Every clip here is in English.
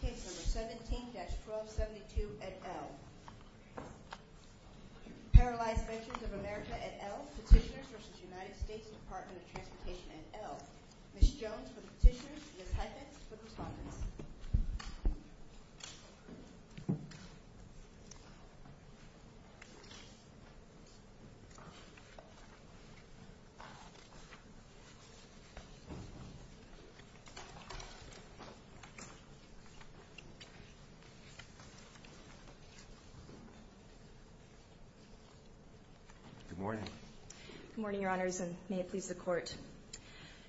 Case number 17-1272 et al. Paralyzed Veterans of America et al. Petitioners v. United States Department of Transportation et al. Ms. Jones for the petitioners, Ms. Heifetz for the respondents. Good morning. Good morning, your honors, and may it please the court.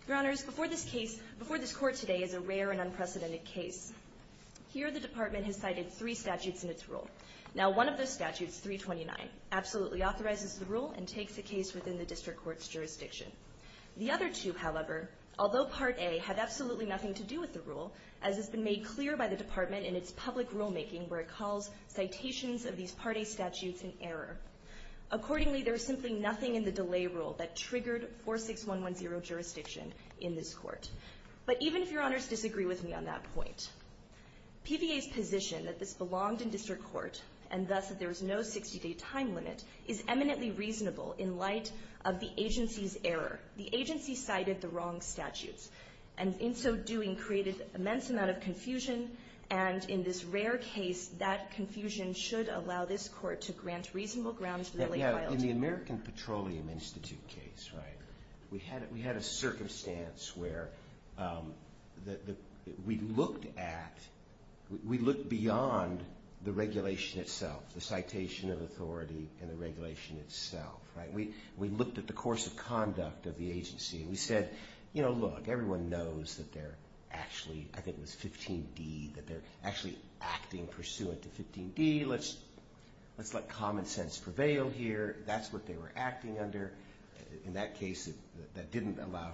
Your honors, before this case, before this court today is a rare and unprecedented case. Here the department has cited three statutes in its rule. Now one of the statutes, 329, absolutely authorizes the rule and takes the case within the district court's jurisdiction. The other two, however, although Part A had absolutely nothing to do with the rule, as has been made clear by the department in its public rulemaking where it calls citations of these Part A statutes an error. Accordingly, there is simply nothing in the delay rule that triggered 46110 jurisdiction in this court. But even if your honors disagree with me on that point, PVA's position that this belonged in district court, and thus that there was no 60-day time limit, is eminently reasonable in light of the agency's error. The agency cited the wrong statutes, and in so doing created immense amount of confusion, and in this rare case that confusion should allow this court to grant reasonable grounds for the late filing. In the American Petroleum Institute case, right, we had a circumstance where we looked at, we looked beyond the regulation itself, the citation of authority and the regulation itself, right. We looked at the course of conduct of the agency, and we said, you know, look, everyone knows that they're actually, I think it was 15D, that they're actually acting pursuant to 15D. Let's let common sense prevail here. That's what they were acting under. In that case, that didn't allow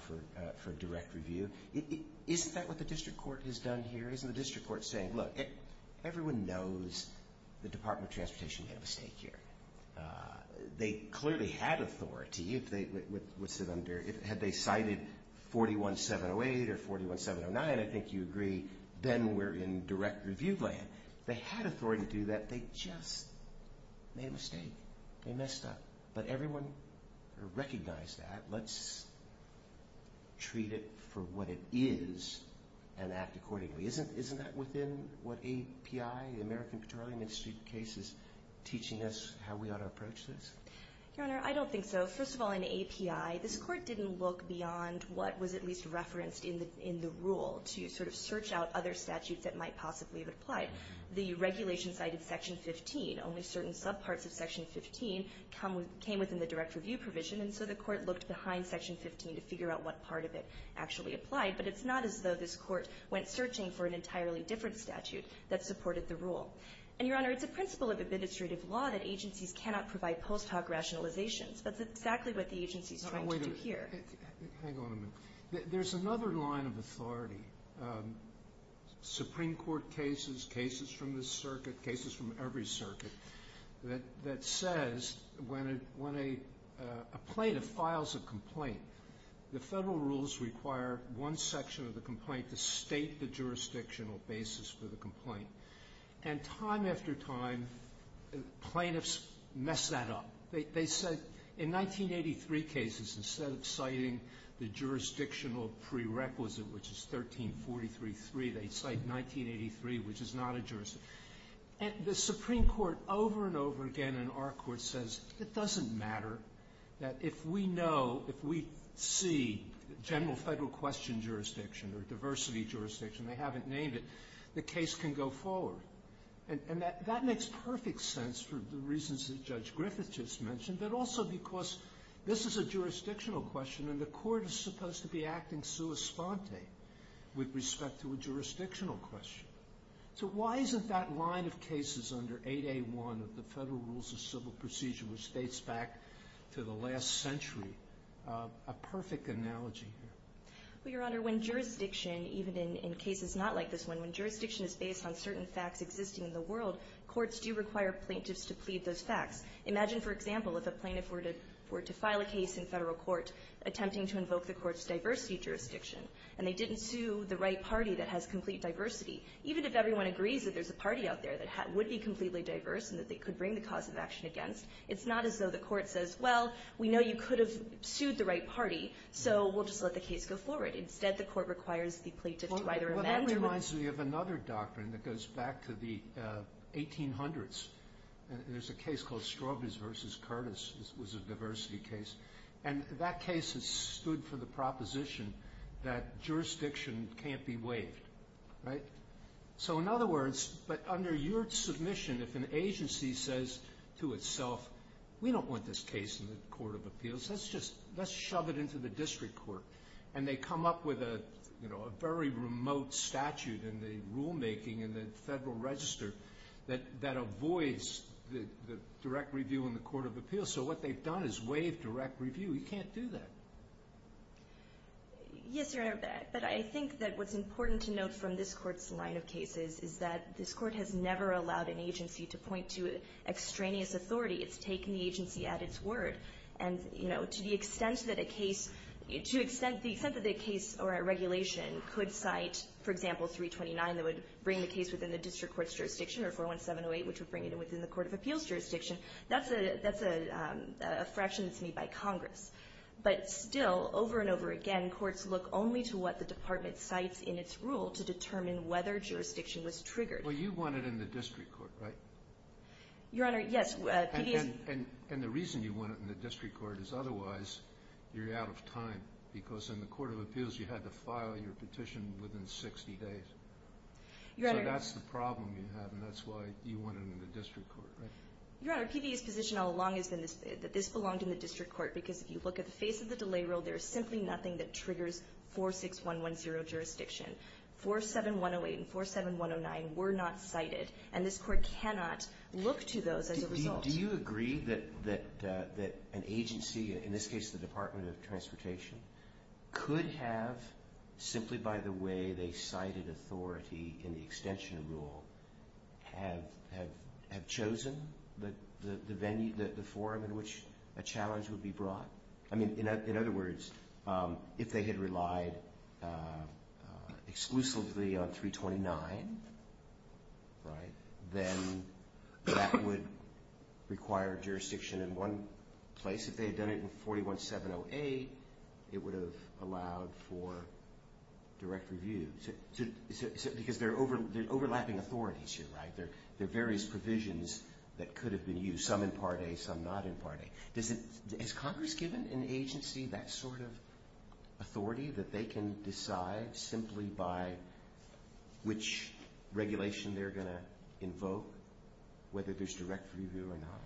for direct review. Isn't that what the district court has done here? Isn't the district court saying, look, everyone knows the Department of Transportation made a mistake here. They clearly had authority. Had they cited 41-708 or 41-709, I think you agree, then we're in direct review land. They had authority to do that. They just made a mistake. They messed up. But everyone recognized that. Let's treat it for what it is and act accordingly. Isn't that within what API, the American Petroleum Institute case is teaching us how we ought to approach this? Your Honor, I don't think so. First of all, in API, this court didn't look beyond what was at least referenced in the rule to sort of search out other statutes that might possibly have applied. The regulation cited Section 15. Only certain subparts of Section 15 came within the direct review provision, and so the court looked behind Section 15 to figure out what part of it actually applied. But it's not as though this court went searching for an entirely different statute that supported the rule. And, Your Honor, it's a principle of administrative law that agencies cannot provide post hoc rationalizations. That's exactly what the agency is trying to do here. Hang on a minute. There's another line of authority, Supreme Court cases, cases from this circuit, cases from every circuit, that says when a plaintiff files a complaint, the federal rules require one section of the complaint to state the jurisdictional basis for the complaint. And time after time, plaintiffs mess that up. They say in 1983 cases, instead of citing the jurisdictional prerequisite, which is 1343.3, they cite 1983, which is not a jurisdiction. And the Supreme Court over and over again in our court says it doesn't matter that if we know, if we see general federal question jurisdiction or diversity jurisdiction, they haven't named it, the case can go forward. And that makes perfect sense for the reasons that Judge Griffith just mentioned, but also because this is a jurisdictional question, and the court is supposed to be acting sua sponte with respect to a jurisdictional question. So why isn't that line of cases under 8A1 of the Federal Rules of Civil Procedure, which dates back to the last century, a perfect analogy here? Well, Your Honor, when jurisdiction, even in cases not like this one, when jurisdiction is based on certain facts existing in the world, courts do require plaintiffs to plead those facts. Imagine, for example, if a plaintiff were to file a case in federal court attempting to invoke the court's diversity jurisdiction, and they didn't sue the right party that has complete diversity, even if everyone agrees that there's a party out there that would be completely diverse and that they could bring the cause of action against, it's not as though the court says, well, we know you could have sued the right party, so we'll just let the case go forward. Instead, the court requires the plaintiff to either amend or move. Well, that reminds me of another doctrine that goes back to the 1800s. There's a case called Strobis v. Curtis. It was a diversity case. And that case stood for the proposition that jurisdiction can't be waived, right? So in other words, but under your submission, if an agency says to itself, we don't want this case in the Court of Appeals, let's just shove it into the district court, and they come up with a very remote statute in the rulemaking in the Federal Register that avoids the direct review in the Court of Appeals, so what they've done is waive direct review. You can't do that. Yes, Your Honor, but I think that what's important to note from this Court's line of cases is that this Court has never allowed an agency to point to extraneous authority. It's taken the agency at its word. And, you know, to the extent that a case or a regulation could cite, for example, 329, that would bring the case within the district court's jurisdiction, that's a fraction that's made by Congress. But still, over and over again, courts look only to what the department cites in its rule to determine whether jurisdiction was triggered. Well, you want it in the district court, right? Your Honor, yes. And the reason you want it in the district court is otherwise you're out of time because in the Court of Appeals you had to file your petition within 60 days. So that's the problem you have, and that's why you want it in the district court, right? Your Honor, PVA's position all along has been that this belonged in the district court because if you look at the face of the delay rule, there is simply nothing that triggers 46110 jurisdiction. 47108 and 47109 were not cited, and this Court cannot look to those as a result. Do you agree that an agency, in this case the Department of Transportation, could have simply by the way they cited authority in the extension rule have chosen the forum in which a challenge would be brought? I mean, in other words, if they had relied exclusively on 329, right, then that would require jurisdiction in one place. If they had done it in 41708, it would have allowed for direct review. Because there are overlapping authorities here, right? There are various provisions that could have been used, some in Part A, some not in Part A. Has Congress given an agency that sort of authority that they can decide simply by which regulation they're going to invoke, whether there's direct review or not?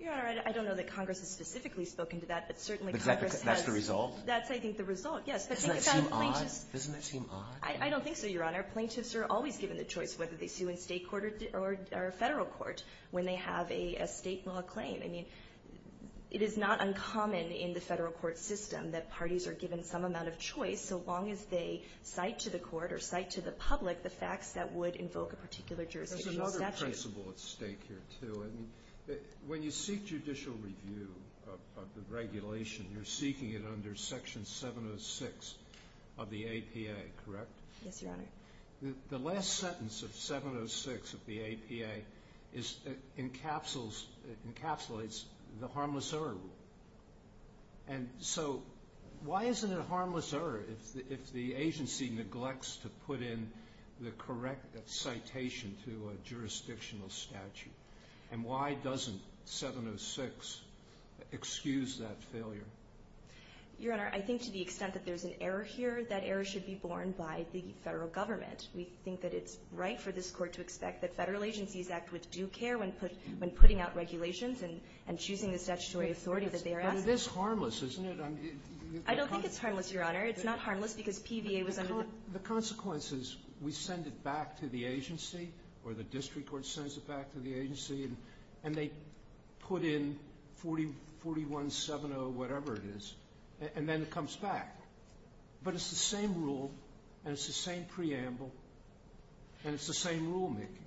Your Honor, I don't know that Congress has specifically spoken to that, but certainly Congress has. That's the result? That's, I think, the result, yes. Doesn't that seem odd? Doesn't that seem odd? I don't think so, Your Honor. Plaintiffs are always given the choice whether they sue in State court or Federal court when they have a State law claim. I mean, it is not uncommon in the Federal court system that parties are given some amount of choice so long as they cite to the court or cite to the public the facts that would invoke a particular jurisdiction statute. There's another principle at stake here, too. I mean, when you seek judicial review of the regulation, you're seeking it under Section 706 of the APA, correct? Yes, Your Honor. The last sentence of 706 of the APA encapsulates the harmless error rule. And so why isn't it a harmless error if the agency neglects to put in the correct citation to a jurisdictional statute? And why doesn't 706 excuse that failure? Your Honor, I think to the extent that there's an error here, that error should be borne by the Federal government. We think that it's right for this Court to expect that Federal agencies act with due care when putting out regulations and choosing the statutory authority that they are asking for. But it is harmless, isn't it? I don't think it's harmless, Your Honor. It's not harmless because PVA was under the law. The consequence is we send it back to the agency or the district court sends it back to the agency and they put in 4170, whatever it is, and then it comes back. But it's the same rule and it's the same preamble and it's the same rulemaking.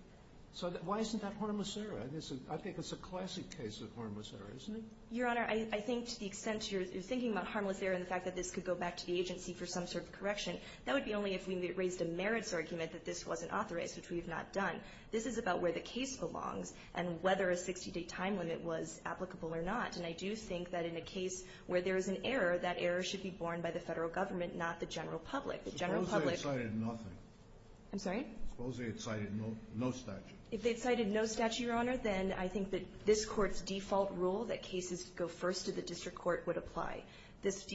So why isn't that harmless error? I think it's a classic case of harmless error, isn't it? Your Honor, I think to the extent you're thinking about harmless error and the fact that this could go back to the agency for some sort of correction, that would be only if we raised a merits argument that this wasn't authorized, which we have not done. This is about where the case belongs and whether a 60-day time limit was applicable or not. And I do think that in a case where there is an error, that error should be borne by the Federal Government, not the general public. The general public — Suppose they had cited nothing. I'm sorry? Suppose they had cited no statute. If they had cited no statute, Your Honor, then I think that this Court's default rule that cases go first to the district court would apply. This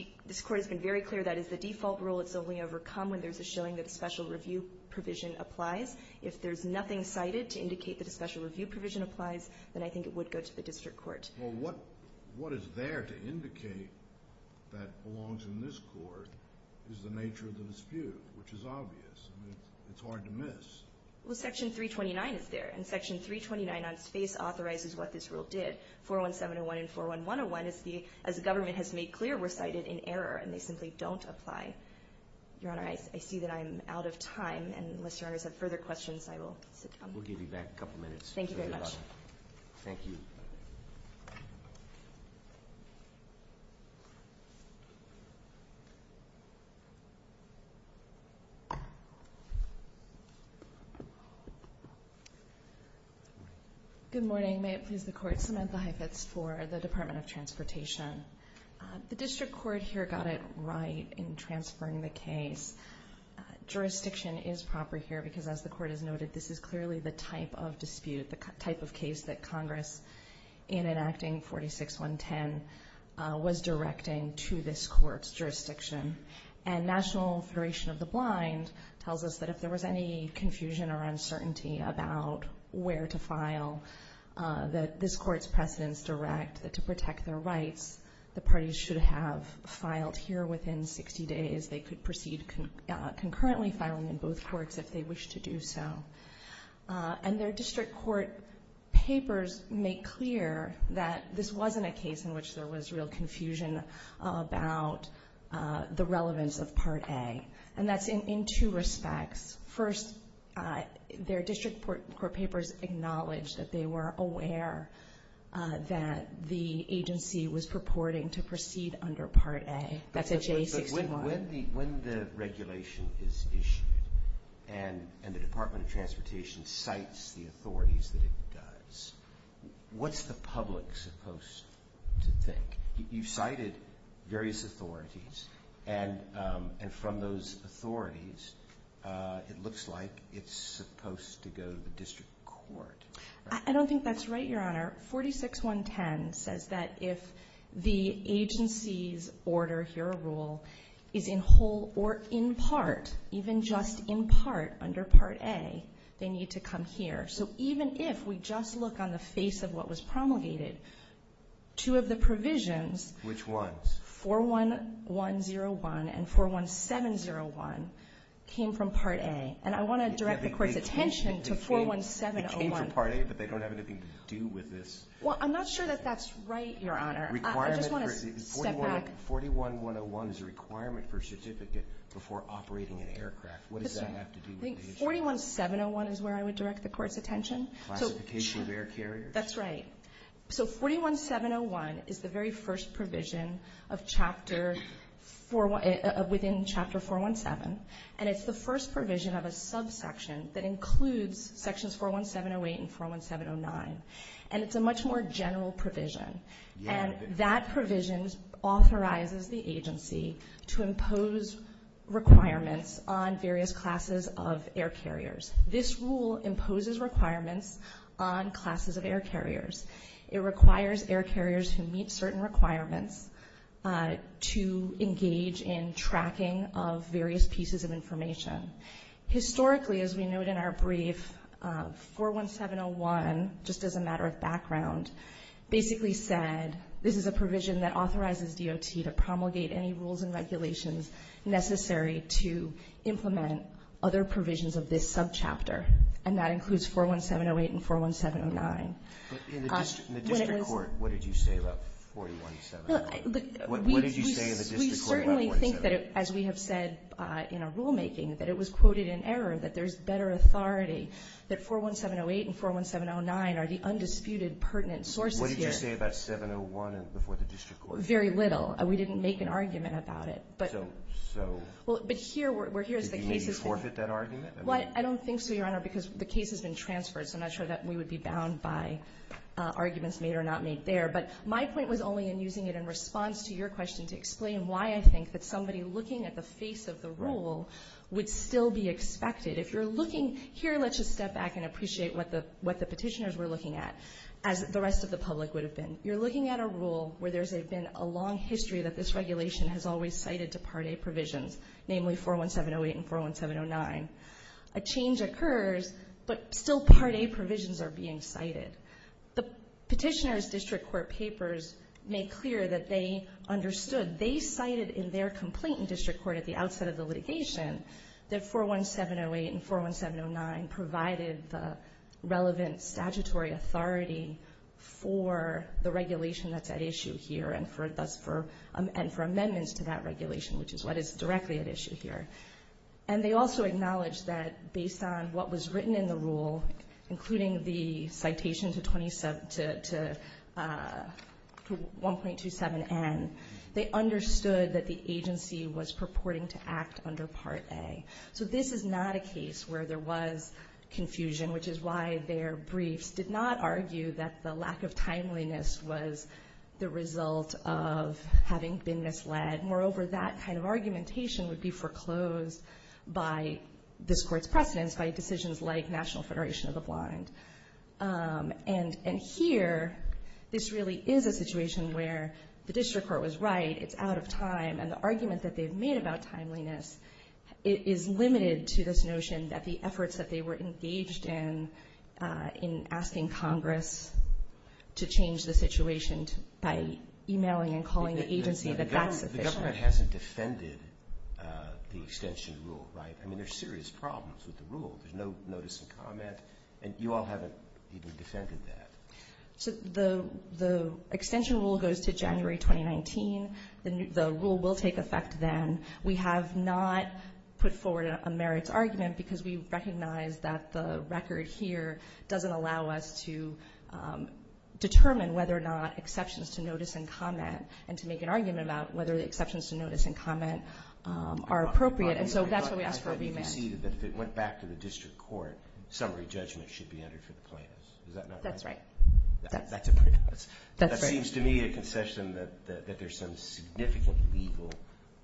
Court has been very clear that as the default rule, it's only overcome when there's a showing that a special review provision applies. If there's nothing cited to indicate that a special review provision applies, then I think it would go to the district court. Well, what is there to indicate that belongs in this Court is the nature of the dispute, which is obvious. I mean, it's hard to miss. Well, Section 329 is there, and Section 329 on its face authorizes what this rule did. 41701 and 41101, as the government has made clear, were cited in error, and they simply don't apply. Your Honor, I see that I'm out of time, and unless Your Honor has further questions, I will sit down. We'll give you back a couple minutes. Thank you very much. Thank you. Good morning. May it please the Court, Samantha Heifetz for the Department of Transportation. The district court here got it right in transferring the case. Jurisdiction is proper here because, as the Court has noted, this is clearly the type of dispute, the type of case that Congress, in enacting 46110, was directing to this Court's jurisdiction. And National Federation of the Blind tells us that if there was any confusion or uncertainty about where to file, that this Court's precedents direct that to Congress. The parties should have filed here within 60 days. They could proceed concurrently filing in both courts if they wish to do so. And their district court papers make clear that this wasn't a case in which there was real confusion about the relevance of Part A. And that's in two respects. First, their district court papers acknowledge that they were aware that the court was reporting to proceed under Part A. That's a J61. But when the regulation is issued and the Department of Transportation cites the authorities that it does, what's the public supposed to think? You cited various authorities. And from those authorities, it looks like it's supposed to go to the district court. I don't think that's right, Your Honor. 46110 says that if the agency's order, hero rule, is in whole or in part, even just in part under Part A, they need to come here. So even if we just look on the face of what was promulgated, two of the provisions Which ones? 41101 and 41701 came from Part A. And I want to direct the Court's attention to 41701. They came from Part A, but they don't have anything to do with this. Well, I'm not sure that that's right, Your Honor. I just want to step back. 41101 is a requirement for a certificate before operating an aircraft. What does that have to do with the agency? I think 41701 is where I would direct the Court's attention. Classification of air carriers? That's right. So 41701 is the very first provision within Chapter 417. And it's the first provision of a subsection that includes Sections 41708 and 41709. And it's a much more general provision. And that provision authorizes the agency to impose requirements on various classes of air carriers. This rule imposes requirements on classes of air carriers. It requires air carriers who meet certain requirements to engage in tracking of various pieces of information. Historically, as we note in our brief, 41701, just as a matter of background, basically said this is a provision that authorizes DOT to promulgate any rules and regulations necessary to implement other provisions of this subchapter, and that includes 41708 and 41709. But in the district court, what did you say about 41708? What did you say in the district court about 41708? We certainly think that, as we have said in our rulemaking, that it was quoted in error, that there's better authority, that 41708 and 41709 are the undisputed pertinent sources here. What did you say about 701 before the district court? Very little. We didn't make an argument about it. So? But here's the case. Did you maybe forfeit that argument? I don't think so, Your Honor, because the case has been transferred, so I'm not sure that we would be bound by arguments made or not made there. But my point was only in using it in response to your question to explain why I think that somebody looking at the face of the rule would still be expected. If you're looking here, let's just step back and appreciate what the petitioners were looking at, as the rest of the public would have been. You're looking at a rule where there's been a long history that this regulation has always cited to Part A provisions, namely 41708 and 41709. A change occurs, but still Part A provisions are being cited. The petitioners' district court papers made clear that they understood. They cited in their complaint in district court at the outset of the litigation that 41708 and 41709 provided the relevant statutory authority for the regulation that's at issue here and for amendments to that regulation, which is what is directly at issue here. And they also acknowledged that based on what was written in the rule, including the citation to 1.27n, they understood that the agency was purporting to act under Part A. So this is not a case where there was confusion, which is why their briefs did not argue that the lack of timeliness was the result of having been misled. Moreover, that kind of argumentation would be foreclosed by this Court's precedence, by decisions like National Federation of the Blind. And here, this really is a situation where the district court was right. It's out of time, and the argument that they've made about timeliness is limited to this notion that the efforts that they were engaged in in asking Congress to change the situation by emailing and calling the agency, that that's official. The government hasn't defended the extension rule, right? I mean, there's serious problems with the rule. There's no notice of comment, and you all haven't even defended that. So the extension rule goes to January 2019. The rule will take effect then. We have not put forward a merits argument because we recognize that the record here doesn't allow us to determine whether or not exceptions to notice and comment and to make an argument about whether the exceptions to notice and comment are appropriate. And so that's why we ask for a remand. But you conceded that if it went back to the district court, summary judgment should be entered for the plaintiffs. Is that not right? That's right. That seems to me a concession that there's some significant legal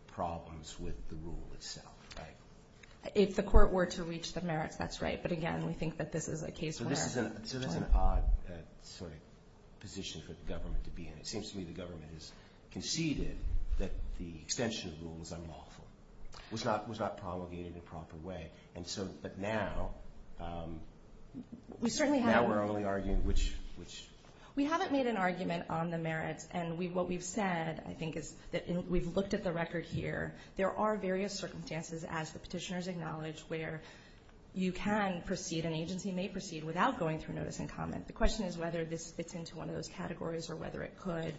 problems with the rule itself, right? If the court were to reach the merits, that's right. But, again, we think that this is a case where it's time. So this is an odd sort of position for the government to be in. It seems to me the government has conceded that the extension rule was unlawful, was not promulgated in a proper way. But now we're only arguing which. We haven't made an argument on the merits. And what we've said, I think, is that we've looked at the record here. There are various circumstances, as the Petitioners acknowledged, where you can proceed, an agency may proceed, without going through notice and comment. The question is whether this fits into one of those categories or whether it could.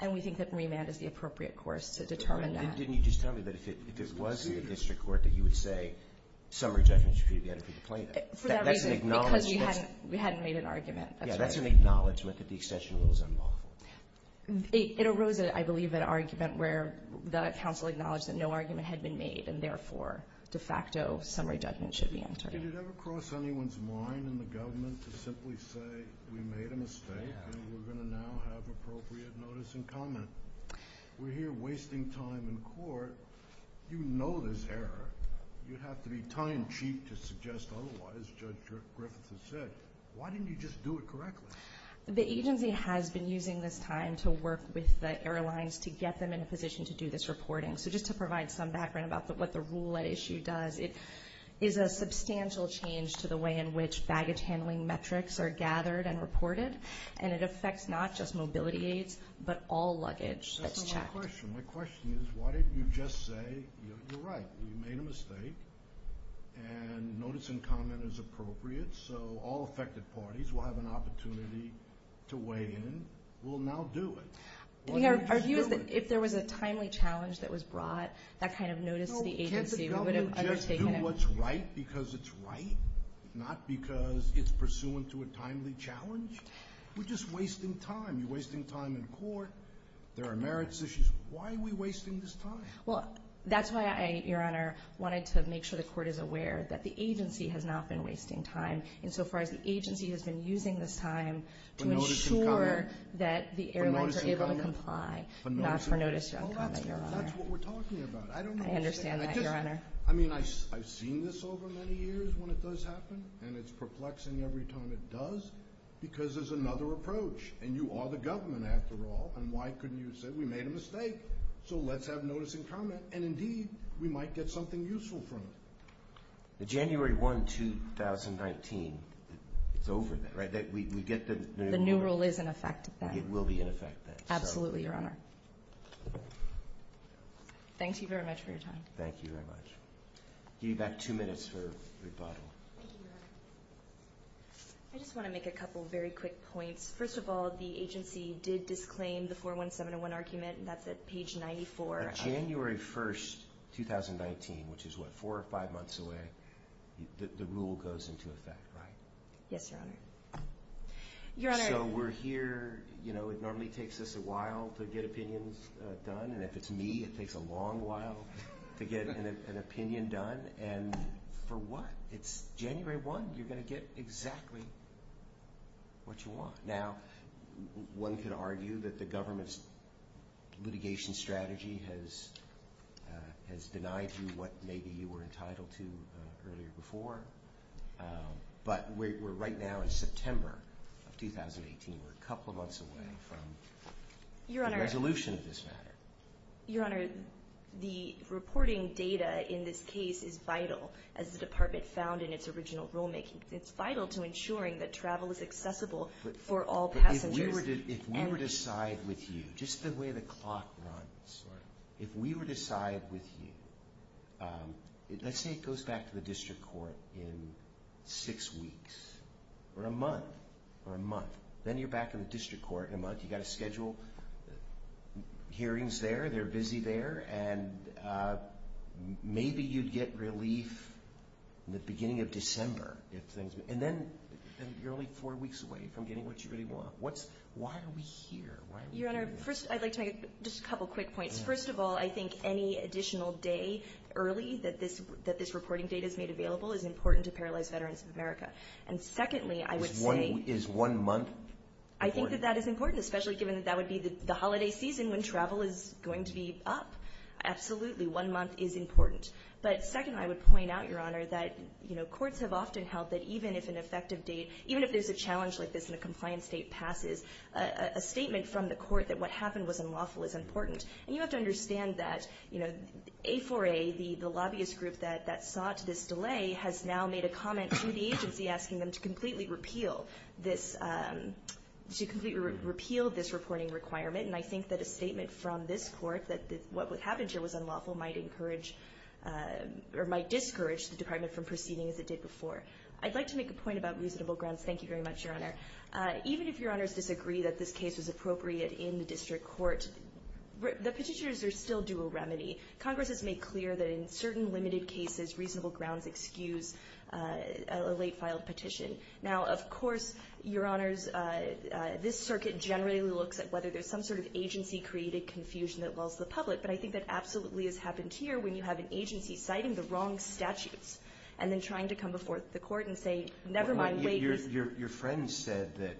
And we think that remand is the appropriate course to determine that. Didn't you just tell me that if it was in the district court that you would say summary judgment should be entered for the plaintiffs? For that reason. That's an acknowledgment. Because we hadn't made an argument. That's right. Yeah, that's an acknowledgment that the extension rule is unlawful. It arose, I believe, an argument where the counsel acknowledged that no argument had been made and therefore, de facto, summary judgment should be entered. Did it ever cross anyone's mind in the government to simply say we made a mistake and we're going to now have appropriate notice and comment? We're here wasting time in court. You know this error. You'd have to be time cheap to suggest otherwise, Judge Griffiths has said. Why didn't you just do it correctly? The agency has been using this time to work with the airlines to get them in a position to do this reporting. So just to provide some background about what the rule at issue does, it is a substantial change to the way in which baggage handling metrics are gathered and reported, and it affects not just mobility aids but all luggage that's checked. That's not my question. My question is why didn't you just say you're right, we made a mistake, and notice and comment is appropriate, so all affected parties will have an opportunity to weigh in. We'll now do it. Our view is that if there was a timely challenge that was brought, that kind of notice to the agency would have undertaken it. Can't the government just do what's right because it's right, not because it's pursuant to a timely challenge? We're just wasting time. You're wasting time in court. There are merits issues. Why are we wasting this time? Well, that's why I, Your Honor, wanted to make sure the court is aware that the agency has not been wasting time insofar as the agency has been using this time to ensure that the airlines are able to comply, not for notice or comment, Your Honor. That's what we're talking about. I understand that, Your Honor. I mean, I've seen this over many years when it does happen, and it's perplexing every time it does because there's another approach, and you are the government after all, and why couldn't you say we made a mistake, so let's have notice and comment. And, indeed, we might get something useful from it. The January 1, 2019, it's over then, right? We get the new rule. The new rule is in effect then. It will be in effect then. Absolutely, Your Honor. Thank you very much for your time. Thank you very much. Give you back two minutes for rebuttal. Thank you, Your Honor. I just want to make a couple very quick points. First of all, the agency did disclaim the 41701 argument, and that's at page 94. On January 1, 2019, which is, what, four or five months away, the rule goes into effect, right? Yes, Your Honor. So we're here, you know, it normally takes us a while to get opinions done, and if it's me, it takes a long while to get an opinion done, and for what? It's January 1. You're going to get exactly what you want. Now, one could argue that the government's litigation strategy has denied you what maybe you were entitled to earlier before, but we're right now in September of 2018. We're a couple of months away from the resolution of this matter. Your Honor, the reporting data in this case is vital, as the department found in its original rulemaking. It's vital to ensuring that travel is accessible for all passengers. If we were to side with you, just the way the clock runs, if we were to side with you, let's say it goes back to the district court in six weeks or a month or a month, then you're back in the district court in a month. You've got to schedule hearings there, they're busy there, and maybe you'd get relief in the beginning of December. And then you're only four weeks away from getting what you really want. Why are we here? Your Honor, first I'd like to make just a couple quick points. First of all, I think any additional day early that this reporting data is made available is important to paralyzed veterans of America. And secondly, I would say— Is one month important? I think that that is important, especially given that that would be the holiday season when travel is going to be up. Absolutely, one month is important. But second, I would point out, Your Honor, that courts have often held that even if an effective date, even if there's a challenge like this and a compliance date passes, a statement from the court that what happened was unlawful is important. And you have to understand that A4A, the lobbyist group that sought this delay, has now made a comment to the agency asking them to completely repeal this reporting requirement. And I think that a statement from this court that what happened here was unlawful might encourage or might discourage the department from proceeding as it did before. I'd like to make a point about reasonable grounds. Thank you very much, Your Honor. Even if Your Honors disagree that this case was appropriate in the district court, the petitioners are still due a remedy. Congress has made clear that in certain limited cases, reasonable grounds excuse a late-filed petition. Now, of course, Your Honors, this circuit generally looks at whether there's some sort of agency-created confusion that wells the public. But I think that absolutely has happened here when you have an agency citing the wrong statutes and then trying to come before the court and say, never mind, wait. Your friend said that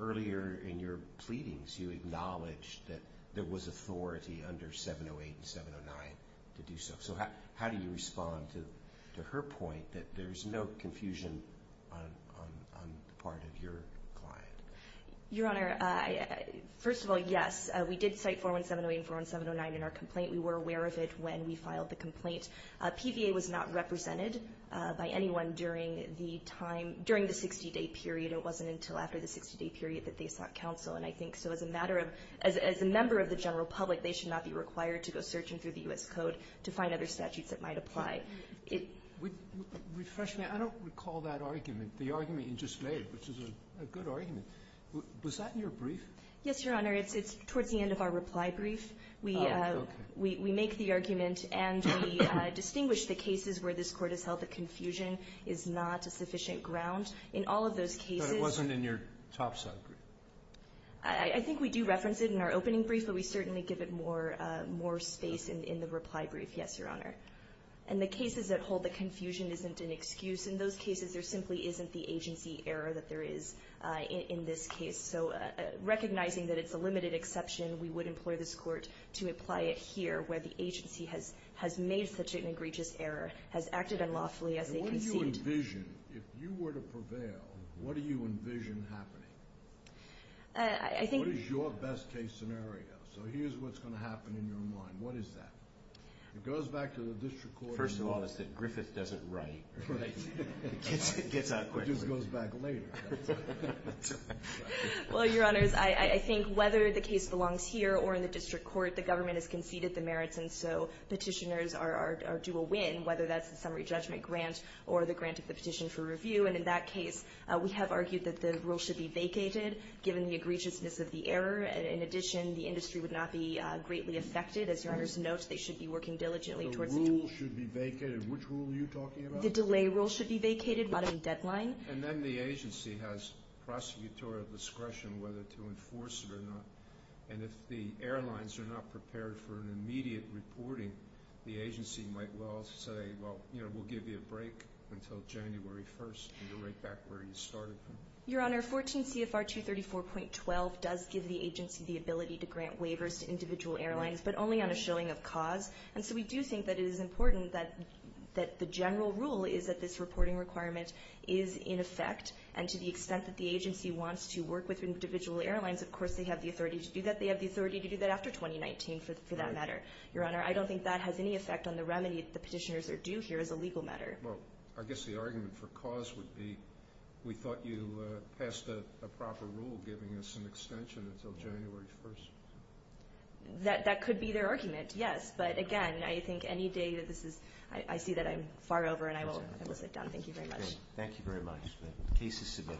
earlier in your pleadings you acknowledged that there was authority under 708 and 709 to do so. So how do you respond to her point that there's no confusion on the part of your client? Your Honor, first of all, yes, we did cite 41708 and 41709 in our complaint. We were aware of it when we filed the complaint. PVA was not represented by anyone during the 60-day period. It wasn't until after the 60-day period that they sought counsel. And I think so as a matter of as a member of the general public, they should not be required to go searching through the U.S. Code to find other statutes that might apply. Refreshingly, I don't recall that argument, the argument you just laid, which is a good argument. Was that in your brief? Yes, Your Honor. It's towards the end of our reply brief. We make the argument and we distinguish the cases where this Court has held that confusion is not a sufficient ground. In all of those cases But it wasn't in your topside brief. I think we do reference it in our opening brief, but we certainly give it more space in the reply brief. Yes, Your Honor. In the cases that hold that confusion isn't an excuse, in those cases there simply isn't the agency error that there is in this case. So recognizing that it's a limited exception, we would employ this Court to apply it here, where the agency has made such an egregious error, has acted unlawfully as they conceived. What do you envision? If you were to prevail, what do you envision happening? I think What is your best case scenario? So here's what's going to happen in your mind. What is that? It goes back to the District Court. First of all, Griffith doesn't write. It gets out quickly. It just goes back later. Well, Your Honors, I think whether the case belongs here or in the District Court, the government has conceded the merits, and so petitioners are due a win, whether that's the summary judgment grant or the grant of the petition for review. And in that case, we have argued that the rule should be vacated, given the egregiousness of the error. In addition, the industry would not be greatly affected. As Your Honors note, they should be working diligently towards the The rule should be vacated. Which rule are you talking about? The delay rule should be vacated, bottom deadline. And then the agency has prosecutorial discretion whether to enforce it or not. And if the airlines are not prepared for an immediate reporting, the agency might well say, well, we'll give you a break until January 1st, and you're right back where you started. Your Honor, 14 CFR 234.12 does give the agency the ability to grant waivers to individual airlines, but only on a showing of cause. And so we do think that it is important that the general rule is that this reporting requirement is in effect. And to the extent that the agency wants to work with individual airlines, of course they have the authority to do that. They have the authority to do that after 2019, for that matter. Your Honor, I don't think that has any effect on the remedy the petitioners are due here as a legal matter. Well, I guess the argument for cause would be we thought you passed a proper rule giving us an extension until January 1st. That could be their argument, yes. But, again, I think any day that this is – I see that I'm far over, and I will sit down. Thank you very much. Thank you very much. The case is submitted.